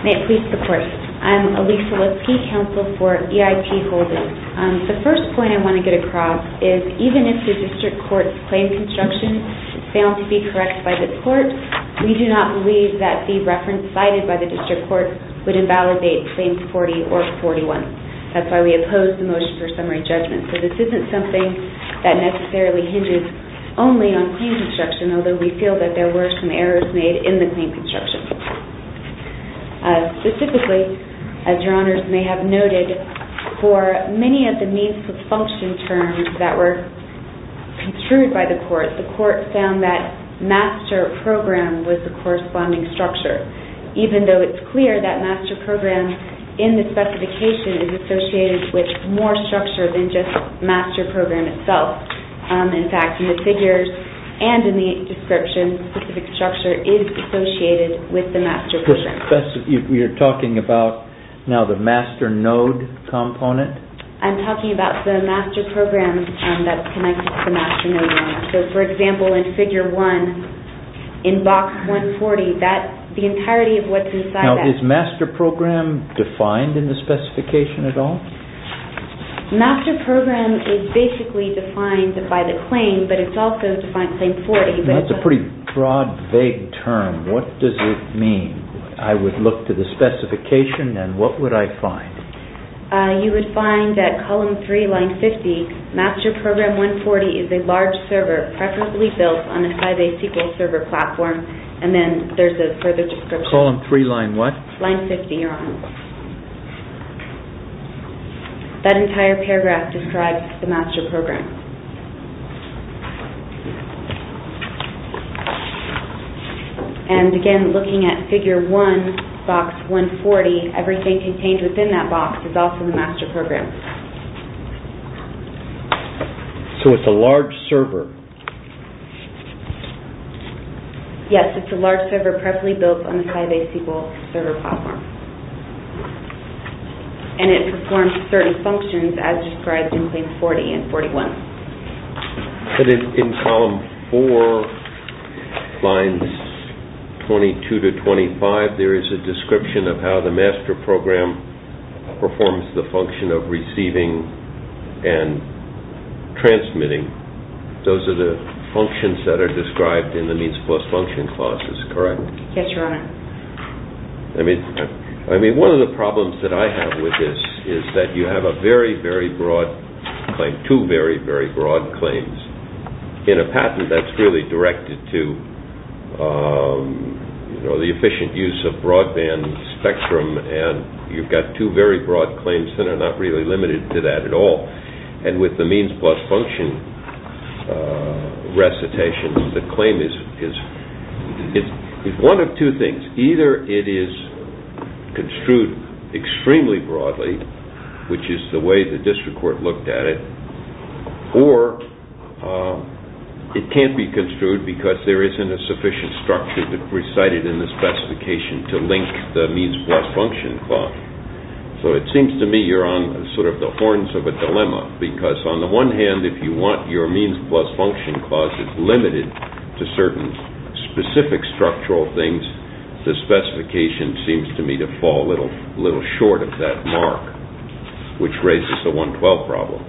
May it please the Court. I'm Alisa Lipsky, Counsel for EIT Holdings. The first point I want to get across is even if the District Court's claim construction failed to be cited by the District Court would invalidate Claims 40 or 41. That's why we oppose the motion for summary judgment. So this isn't something that necessarily hinges only on claim construction, although we feel that there were some errors made in the claim construction. Specifically, as Your Honors may have noted, for many of the means of function terms that were construed by the Court, the Court found that Master Program was the corresponding structure, even though it's clear that Master Program in the specification is associated with more structure than just Master Program itself. In fact, in the figures and in the description, specific structure is associated with the Master Program. You're talking about now the Master Node component? I'm talking about the Master Program that's connected to the Master Node. So, for example, in Figure 1 in Box 140, the entirety of what's inside that... Now, is Master Program defined in the specification at all? Master Program is basically defined by the claim, but it's also defined in Claim 40. That's a pretty broad, vague term. What does it mean? I would look to the specification and what would I find? You would find that Column 3, Line 50, Master Program 140 is a large server preferably built on a Sybase SQL Server platform, and then there's a further description. Column 3, Line what? Line 50, Your Honors. That entire paragraph describes the Master Program. Again, looking at Figure 1, Box 140, everything contained within that box is also the Master Program. So, it's a large server? Yes, it's a large server preferably built on a Sybase SQL Server platform. It performs certain functions as described in Claim 40 and 41. But in Column 4, Lines 22 to 25, there is a description of how the Master Program performs the function of receiving and transmitting. Those are the functions that are described in the Means Plus Function clauses, correct? Yes, Your Honor. One of the problems that I have with this is that you have a very, very broad claim, two very, very broad claims. In a patent, that's really directed to the efficient use of broadband spectrum and you've got two very broad claims that are not really limited to that at all. And with the Means Plus Function recitation, the claim is one of two things. Either it is construed extremely broadly, which is the way the district court looked at it, or it can't be construed because there isn't a sufficient structure recited in the specification to link the Means Plus Function clause. So it seems to me you're on sort of the horns of a dilemma because on the one hand, if you want your Means Plus Function clauses limited to certain specific structural things, the specification seems to me to fall a little short of that mark, which raises the 112 problem.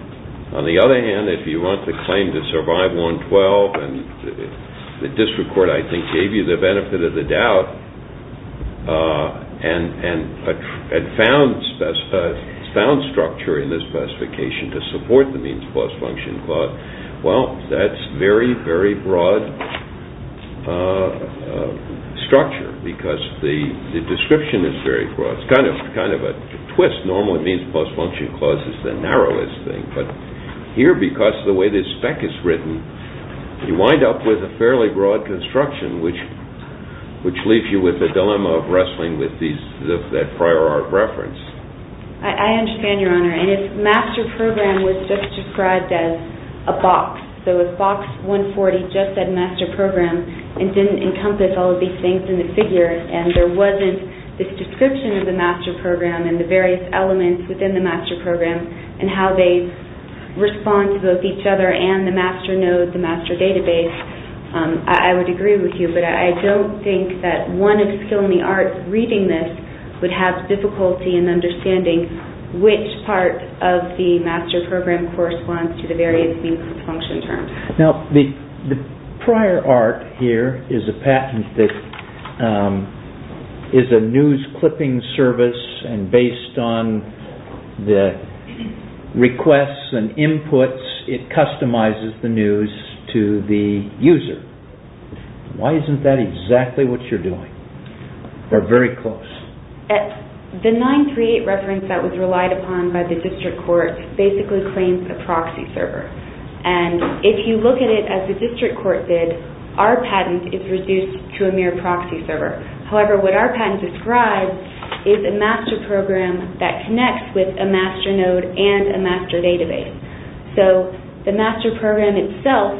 On the other hand, if you want the claim to survive 112, and the district court I think gave you the benefit of the doubt and found structure in this specification to support the Means Plus Function clause, well, that's very, very broad structure because the description is very broad. It's kind of a twist. Normally Means Plus Function clause is the narrowest thing, but here, because of the way this spec is written, you wind up with a fairly broad construction, which leaves you with a dilemma of wrestling with that prior art reference. I understand, Your Honor, and if Master Program was just described as a box, so if Box 140 just said Master Program and didn't encompass all of these things in the figure and there wasn't this description of the Master Program and the various elements within the Master Program and how they respond to both each other and the Master Node, the Master Database, I would agree with you, but I don't think that one of the skill in the arts reading this would have difficulty in understanding which part of the Master Program corresponds to the various Means Plus Function terms. Now, the prior art here is a patent that is a news clipping service and based on the requests and inputs, it customizes the news to the user. Why isn't that exactly what you're doing or very close? The 938 reference that was relied upon by the district court basically claims a proxy server and if you look at it as the district court did, our patent is reduced to a mere proxy server. However, what our patent describes is a Master Program that connects with a Master Node and a Master Database. So, the Master Program itself,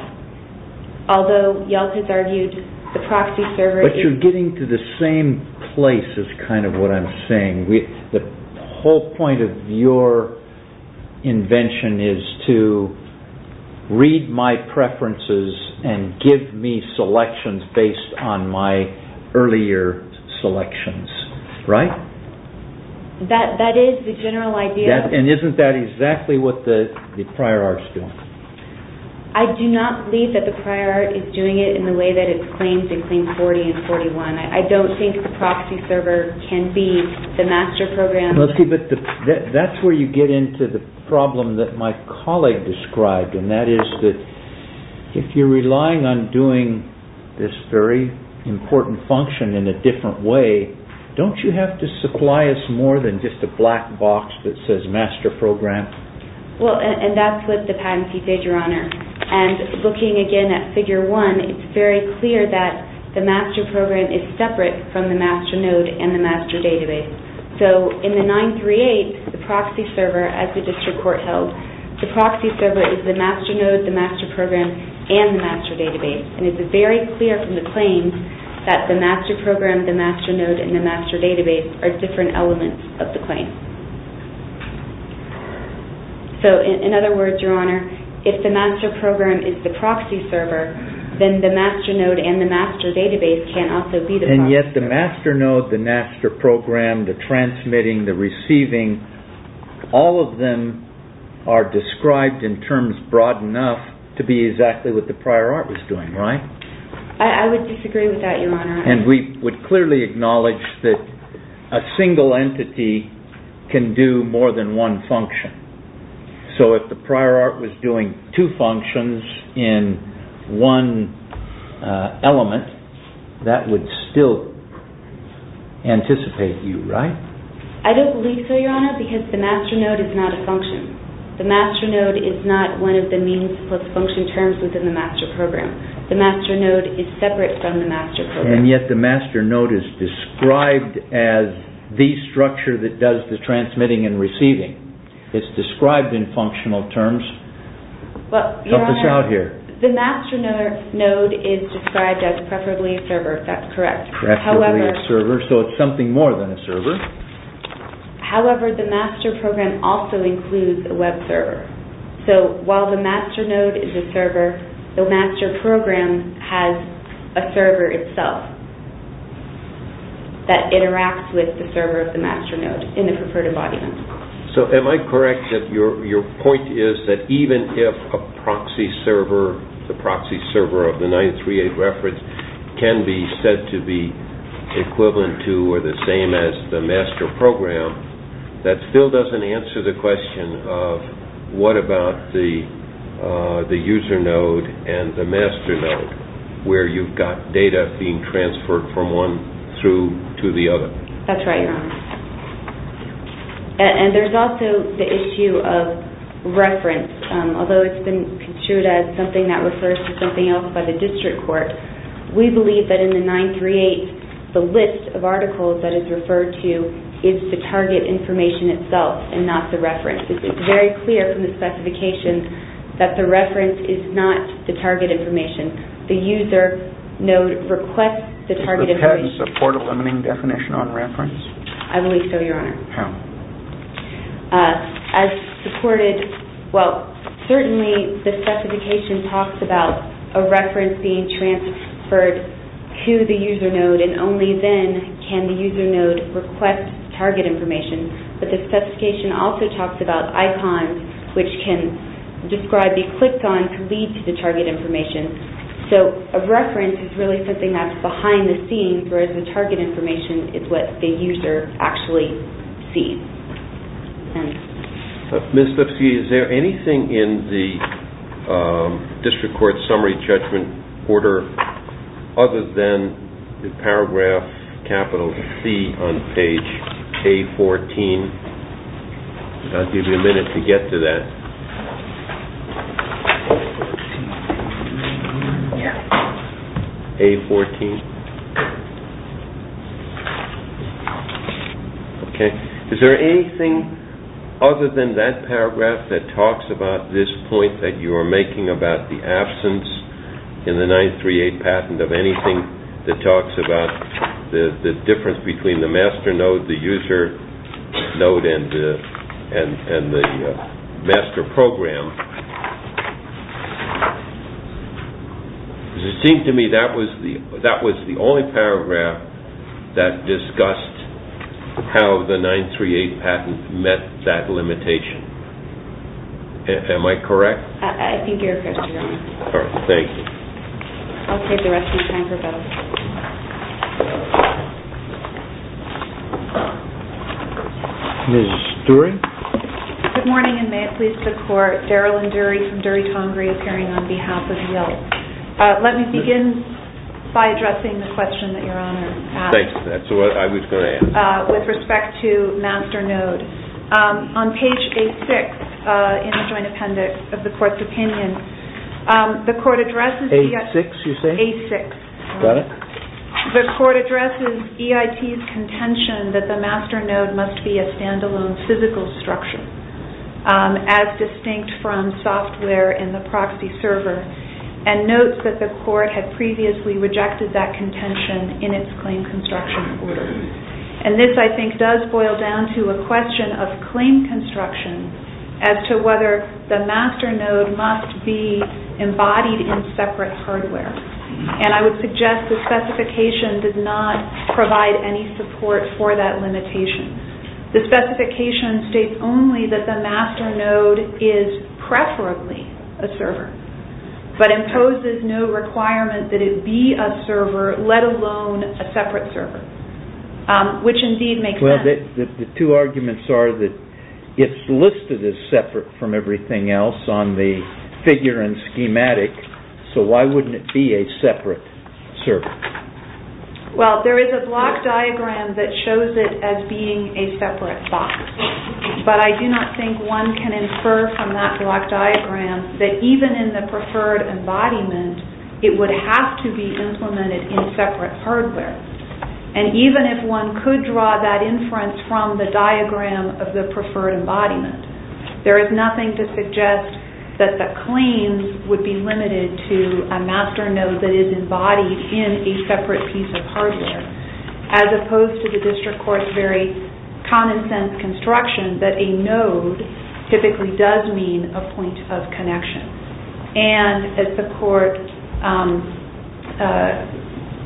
although you all have argued the proxy server is... But you're getting to the same place is kind of what I'm saying. The whole point of your invention is to read my preferences and give me selections based on my earlier selections, right? That is the general idea. And isn't that exactly what the prior art is doing? I do not believe that the prior art is doing it in the way that it claims in Claim 40 and 41. I don't think the proxy server can be the Master Program. But that's where you get into the problem that my colleague described and that is that if you're relying on doing this very important function in a different way, don't you have to supply us more than just a black box that says Master Program? Well, and that's what the patentee did, Your Honor. And looking again at Figure 1, it's very clear that the Master Program is separate from the Master Node and the Master Database. So, in the 938, the proxy server, as the district court held, the proxy server is the Master Node, the Master Program, and the Master Database. And it's very clear from the claim that the Master Program, the Master Node, and the Master Database are different elements of the claim. So, in other words, Your Honor, if the Master Program is the proxy server, then the Master Node and the Master Database can't also be the proxy server. And yet the Master Node, the Master Program, the transmitting, the receiving, all of them are described in terms broad enough to be exactly what the prior art was doing, right? I would disagree with that, Your Honor. And we would clearly acknowledge that a single entity can do more than one function. So, if the prior art was doing two functions in one element, that would still anticipate you, right? I don't believe so, Your Honor, because the Master Node is not a function. The Master Node is not one of the means plus function terms within the Master Program. The Master Node is separate from the Master Program. And yet the Master Node is described as the structure that does the transmitting and receiving. It's described in functional terms. Well, Your Honor, the Master Node is described as preferably a server, if that's correct. Preferably a server, so it's something more than a server. However, the Master Program also includes a web server. So, while the Master Node is a server, the Master Program has a server itself that interacts with the server of the Master Node in the preferred embodiment. So, am I correct that your point is that even if a proxy server, the proxy server of the 938 reference can be said to be equivalent to or the same as the Master Program, that still doesn't answer the question of what about the User Node and the Master Node, where you've got data being transferred from one through to the other? That's right, Your Honor. And there's also the issue of reference. Although it's been construed as something that refers to something else by the district court, we believe that in the 938, the list of articles that it's referred to is the target information itself and not the reference. It's very clear from the specification that the reference is not the target information. The User Node requests the target information. Does the patent support a limiting definition on reference? I believe so, Your Honor. How? As supported, well, certainly the specification talks about a reference being transferred to the User Node and only then can the User Node request target information. But the specification also talks about icons, which can describe, be clicked on to lead to the target information. So a reference is really something that's behind the scenes, whereas the target information is what the user actually sees. Ms. Lipsky, is there anything in the district court summary judgment order other than the paragraph capital C on page K14? I'll give you a minute to get to that. A14? Okay. Is there anything other than that paragraph that talks about this point that you are making about the absence in the 938 patent of anything that talks about the difference between the Master Node, the User Node and the Master Program? It seems to me that was the only paragraph that discussed how the 938 patent met that limitation. Am I correct? I think you're correct, Your Honor. Thank you. I'll take the rest of the time for both. Ms. Dury? Good morning, and may it please the Court. Daryl and Dury from Dury Congre appearing on behalf of Yelp. Let me begin by addressing the question that Your Honor asked with respect to Master Node. On page A6 in the joint appendix of the Court's opinion, the Court addresses EIT's contention that the Master Node must be a stand-alone physical structure, as distinct from software in the proxy server, and notes that the Court had previously rejected that contention in its claim construction order. This, I think, does boil down to a question of claim construction as to whether the Master Node must be embodied in separate hardware. I would suggest the specification does not provide any support for that limitation. The specification states only that the Master Node is preferably a server, but imposes no requirement that it be a server, let alone a separate server, which indeed makes sense. The two arguments are that it's listed as separate from everything else on the figure and schematic, so why wouldn't it be a separate server? Well, there is a block diagram that shows it as being a separate box, but I do not think one can infer from that block diagram that even in the preferred embodiment, it would have to be implemented in separate hardware. And even if one could draw that inference from the diagram of the preferred embodiment, there is nothing to suggest that the claims would be limited to a Master Node that is embodied in a separate piece of hardware, as opposed to the District Court's very common-sense construction that a node typically does mean a point of connection. And as the Court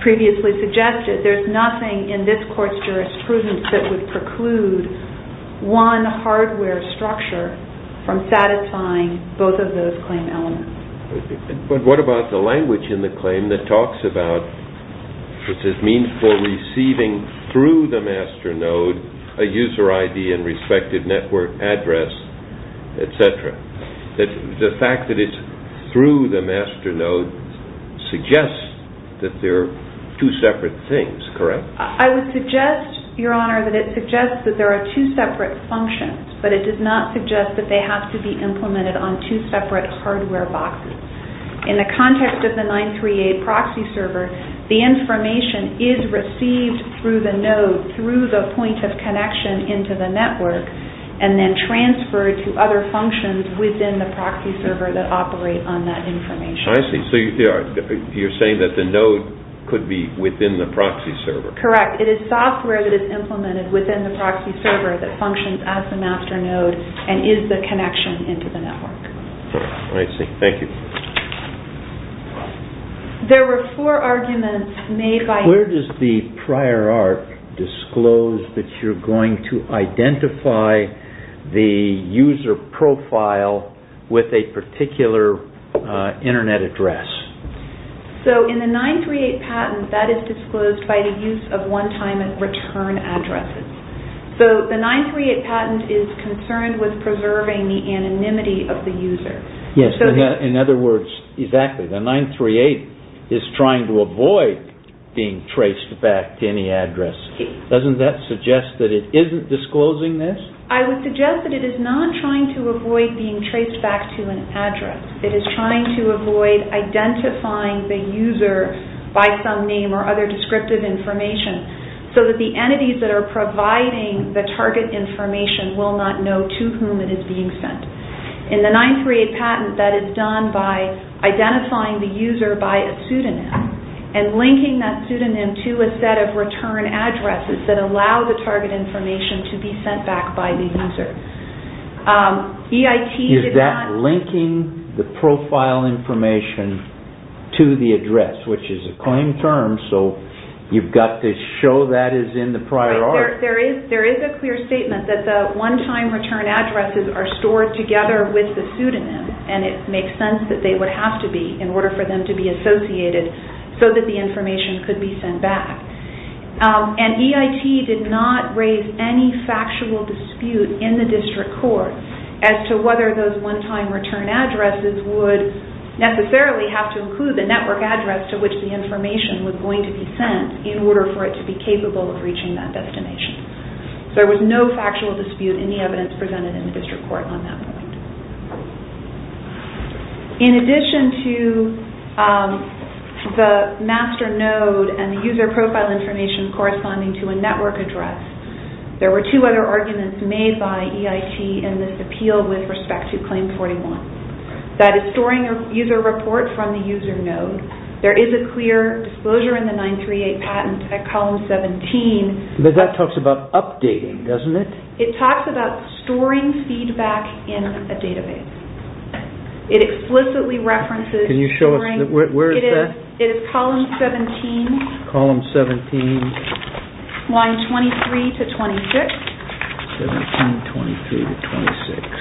previously suggested, there's nothing in this Court's jurisprudence that would preclude one hardware structure from satisfying both of those claim elements. But what about the language in the claim that talks about this is meaningful receiving through the Master Node a user ID and respected network address, et cetera? The fact that it's through the Master Node suggests that they're two separate things, correct? I would suggest, Your Honor, that it suggests that there are two separate functions, but it does not suggest that they have to be implemented on two separate hardware boxes. In the context of the 938 proxy server, the information is received through the node, through the point of connection into the network, and then transferred to other functions within the proxy server that operate on that information. I see. So you're saying that the node could be within the proxy server. Correct. It is software that is implemented within the proxy server that functions as the Master Node and is the connection into the network. I see. Thank you. There were four arguments made by... Where does the prior art disclose that you're going to identify the user profile with a particular internet address? In the 938 patent, that is disclosed by the use of one-time return addresses. The 938 patent is concerned with preserving the anonymity of the user. Yes, in other words, exactly. The 938 is trying to avoid being traced back to any address. Doesn't that suggest that it isn't disclosing this? I would suggest that it is not trying to avoid being traced back to an address. It is trying to avoid identifying the user by some name or other descriptive information so that the entities that are providing the target information will not know to whom it is being sent. In the 938 patent, that is done by identifying the user by a pseudonym and linking that pseudonym to a set of return addresses that allow the target information to be sent back by the user. Is that linking the profile information to the address, which is a claimed term, so you've got to show that is in the prior art? There is a clear statement that the one-time return addresses are stored together with the pseudonym and it makes sense that they would have to be in order for them to be associated so that the information could be sent back. EIT did not raise any factual dispute in the district court as to whether those one-time return addresses would necessarily have to include the network address to which the information was going to be sent in order for it to be capable of reaching that destination. There was no factual dispute in the evidence presented in the district court on that point. In addition to the master node and the user profile information corresponding to a network address, there were two other arguments made by EIT in this appeal with respect to Claim 41. That is storing a user report from the user node. There is a clear disclosure in the 938 patent at column 17. But that talks about updating, doesn't it? It talks about storing feedback in a database. It explicitly references... Can you show us? Where is that? It is column 17, line 23 to 26. 17, 23 to 26.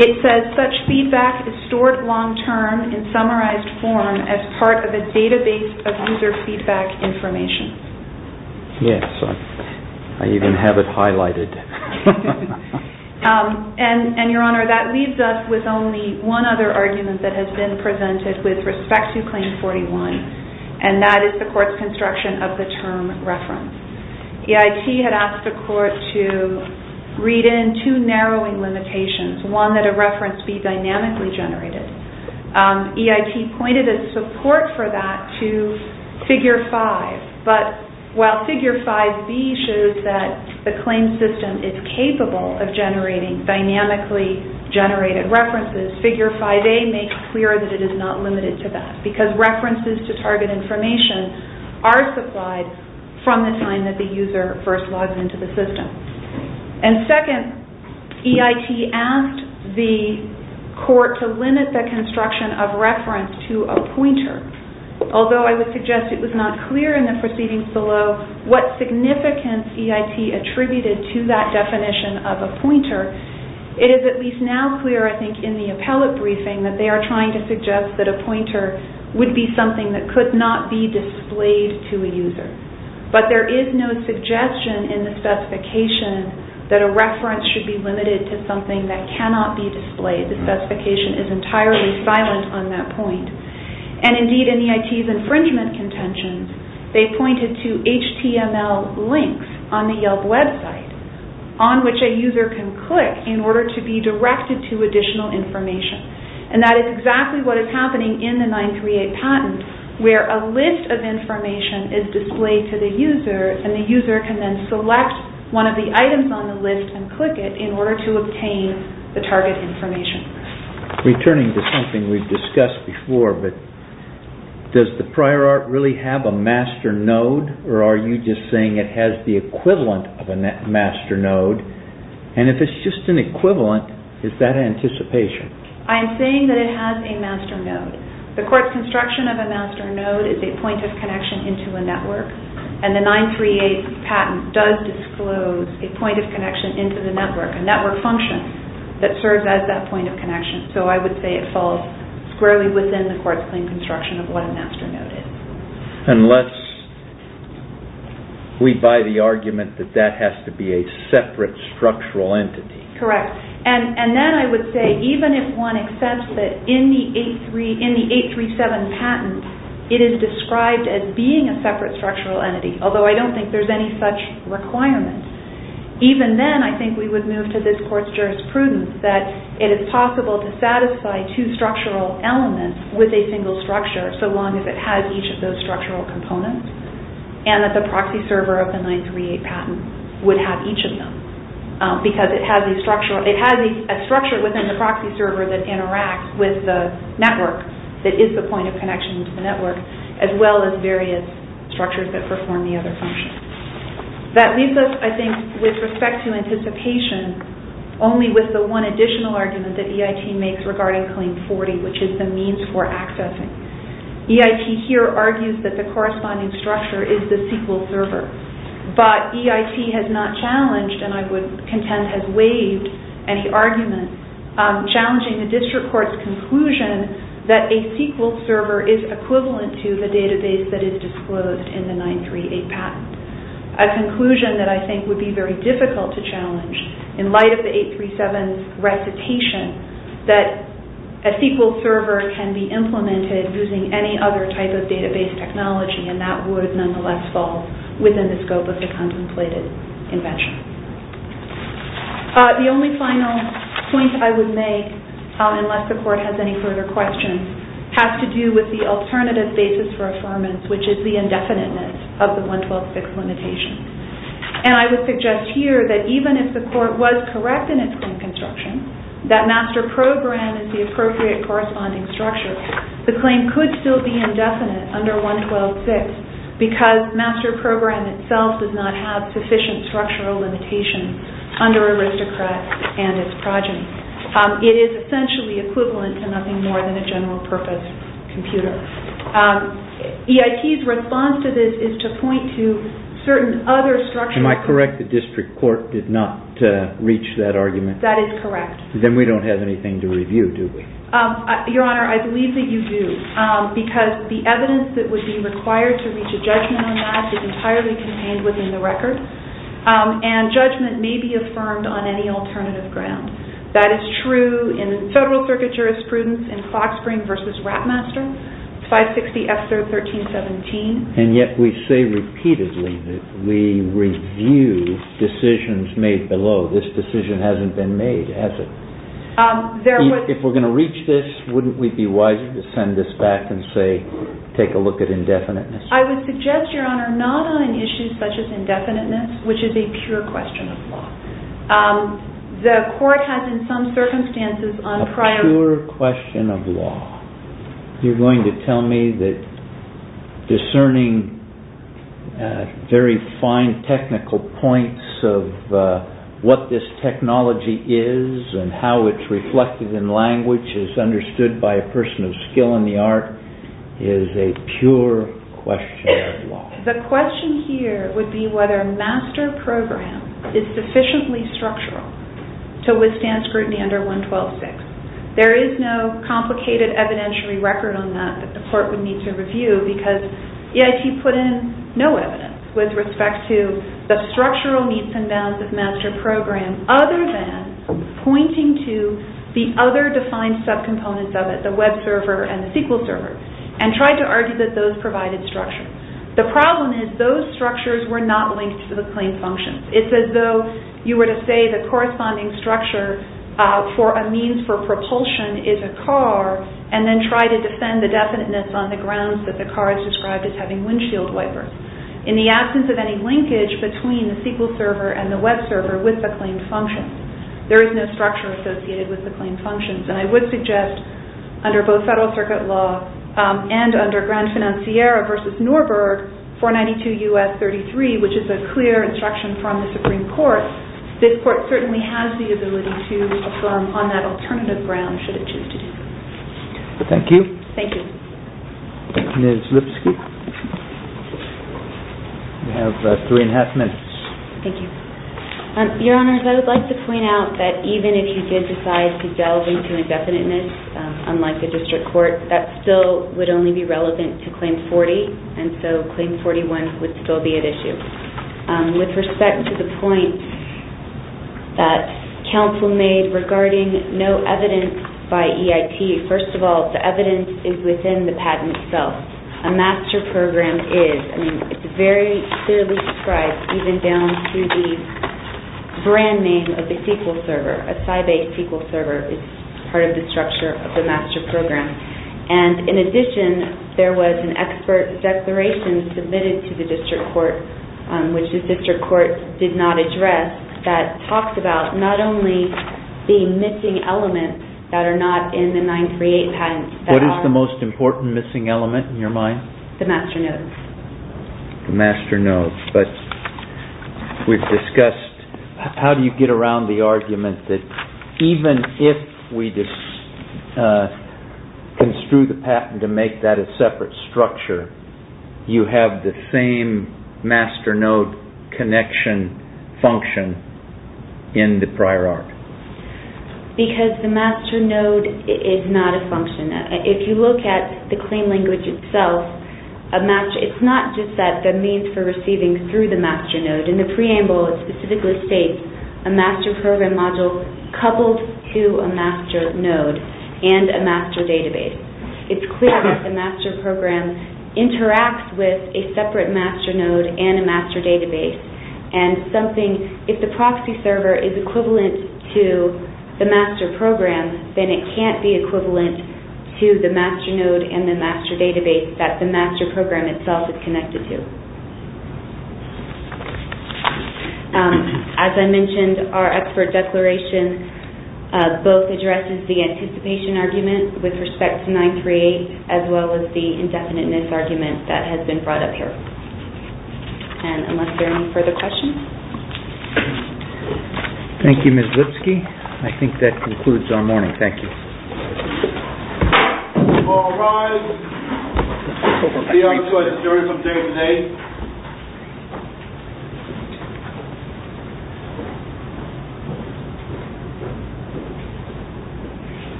It says such feedback is stored long-term in summarized form as part of a database of user feedback information. Yes, I even have it highlighted. Your Honor, that leaves us with only one other argument that has been presented with respect to Claim 41. That is the court's construction of the term reference. EIT had asked the court to read in two narrowing limitations. One, that a reference be dynamically generated. EIT pointed its support for that to Figure 5. But while Figure 5B shows that the claim system is capable of generating dynamically generated references, Figure 5A makes clear that it is not limited to that. Because references to target information are supplied from the time that the user first logs into the system. And second, EIT asked the court to limit the construction of reference to a pointer. Although I would suggest it was not clear in the proceedings below what significance EIT attributed to that definition of a pointer, it is at least now clear, I think, in the appellate briefing, that they are trying to suggest that a pointer would be something that could not be displayed to a user. But there is no suggestion in the specification that a reference should be limited to something that cannot be displayed. The specification is entirely silent on that point. And indeed in EIT's infringement contention, they pointed to HTML links on the Yelp website on which a user can click in order to be directed to additional information. And that is exactly what is happening in the 938 patent where a list of information is displayed to the user and the user can then select one of the items on the list and click it in order to obtain the target information. Returning to something we have discussed before, does the prior art really have a master node or are you just saying it has the equivalent of a master node? And if it is just an equivalent, is that anticipation? I am saying that it has a master node. The court's construction of a master node is a point of connection into a network. And the 938 patent does disclose a point of connection into the network, a network function that serves as that point of connection. So I would say it falls squarely within the court's claim construction of what a master node is. Unless we buy the argument that that has to be a separate structural entity. Correct. And then I would say even if one accepts that in the 837 patent, it is described as being a separate structural entity, although I don't think there is any such requirement, even then I think we would move to this court's jurisprudence that it is possible to satisfy two structural elements with a single structure so long as it has each of those structural components and that the proxy server of the 938 patent would have each of them. Because it has a structure within the proxy server that interacts with the network that is the point of connection to the network as well as various structures that perform the other functions. That leaves us, I think, with respect to anticipation only with the one additional argument that EIT makes regarding Claim 40, which is the means for accessing. EIT here argues that the corresponding structure is the SQL server. But EIT has not challenged and I would contend has waived any argument challenging the district court's conclusion that a SQL server is equivalent to the database that is disclosed in the 938 patent. A conclusion that I think would be very difficult to challenge in light of the 837's recitation that a SQL server can be implemented using any other type of database technology and that would nonetheless fall within the scope of the contemplated invention. The only final point I would make, unless the court has any further questions, has to do with the alternative basis for affirmance, which is the indefiniteness of the 112.6 limitation. And I would suggest here that even if the court was correct in its claim construction that master program is the appropriate corresponding structure, the claim could still be indefinite under 112.6 because master program itself does not have sufficient structural limitations under aristocrats and its progeny. It is essentially equivalent to nothing more than a general purpose computer. EIT's response to this is to point to certain other structural... Am I correct that district court did not reach that argument? That is correct. Then we don't have anything to review, do we? Your Honor, I believe that you do because the evidence that would be required to reach a judgment on that is entirely contained within the record and judgment may be affirmed on any alternative ground. That is true in Federal Circuit jurisprudence in Foxspring v. Rapmaster, 560 F-1317. And yet we say repeatedly that we review decisions made below. This decision hasn't been made, has it? If we're going to reach this, wouldn't we be wiser to send this back and say take a look at indefiniteness? I would suggest, Your Honor, not on an issue such as indefiniteness, which is a pure question of law. The court has in some circumstances on prior... A pure question of law. You're going to tell me that discerning very fine technical points of what this technology is and how it's reflected in language as understood by a person of skill in the art is a pure question of law. The question here would be whether a master program is sufficiently structural to withstand scrutiny under 112-6. There is no complicated evidentiary record on that that the court would need to review because EIT put in no evidence with respect to the structural needs and bounds of master program other than pointing to the other defined subcomponents of it, the web server and the SQL server, and tried to argue that those provided structure. The problem is those structures were not linked to the claim functions. It's as though you were to say the corresponding structure for a means for propulsion is a car and then try to defend the definiteness on the grounds that the car is described as having windshield wiper. In the absence of any linkage between the SQL server and the web server with the claim function, there is no structure associated with the claim functions. And I would suggest under both Federal Circuit law and under Grand Financiera v. Norberg 492 U.S. 33, which is a clear instruction from the Supreme Court, this court certainly has the ability to affirm on that alternative ground should it choose to do so. Thank you. Thank you. Ms. Lipsky, you have three and a half minutes. Thank you. Your Honors, I would like to point out that even if you did decide to delve into indefiniteness, unlike the district court, that still would only be relevant to Claim 40, and so Claim 41 would still be at issue. With respect to the point that counsel made regarding no evidence by EIT, first of all, the evidence is within the patent itself. A master program is. I mean, it's very clearly described, even down through the brand name of the SQL server. A Sybase SQL server is part of the structure of the master program. And in addition, there was an expert declaration submitted to the district court, which the district court did not address, that talked about not only the missing elements that are not in the 938 patent. What is the most important missing element in your mind? The master node. The master node. But we've discussed, how do you get around the argument that even if we construe the patent to make that a separate structure, you have the same master node connection function in the prior art? Because the master node is not a function. If you look at the claim language itself, it's not just that the means for receiving through the master node. In the preamble, it specifically states a master program module coupled to a master node and a master database. It's clear that the master program interacts with a separate master node and a master database. And something, if the proxy server is equivalent to the master program, then it can't be equivalent to the master node and the master database that the master program itself is connected to. As I mentioned, our expert declaration both addresses the anticipation argument with respect to 938, as well as the indefiniteness argument that has been brought up here. Unless there are any further questions? Thank you, Ms. Lipsky. I think that concludes our morning. Thank you.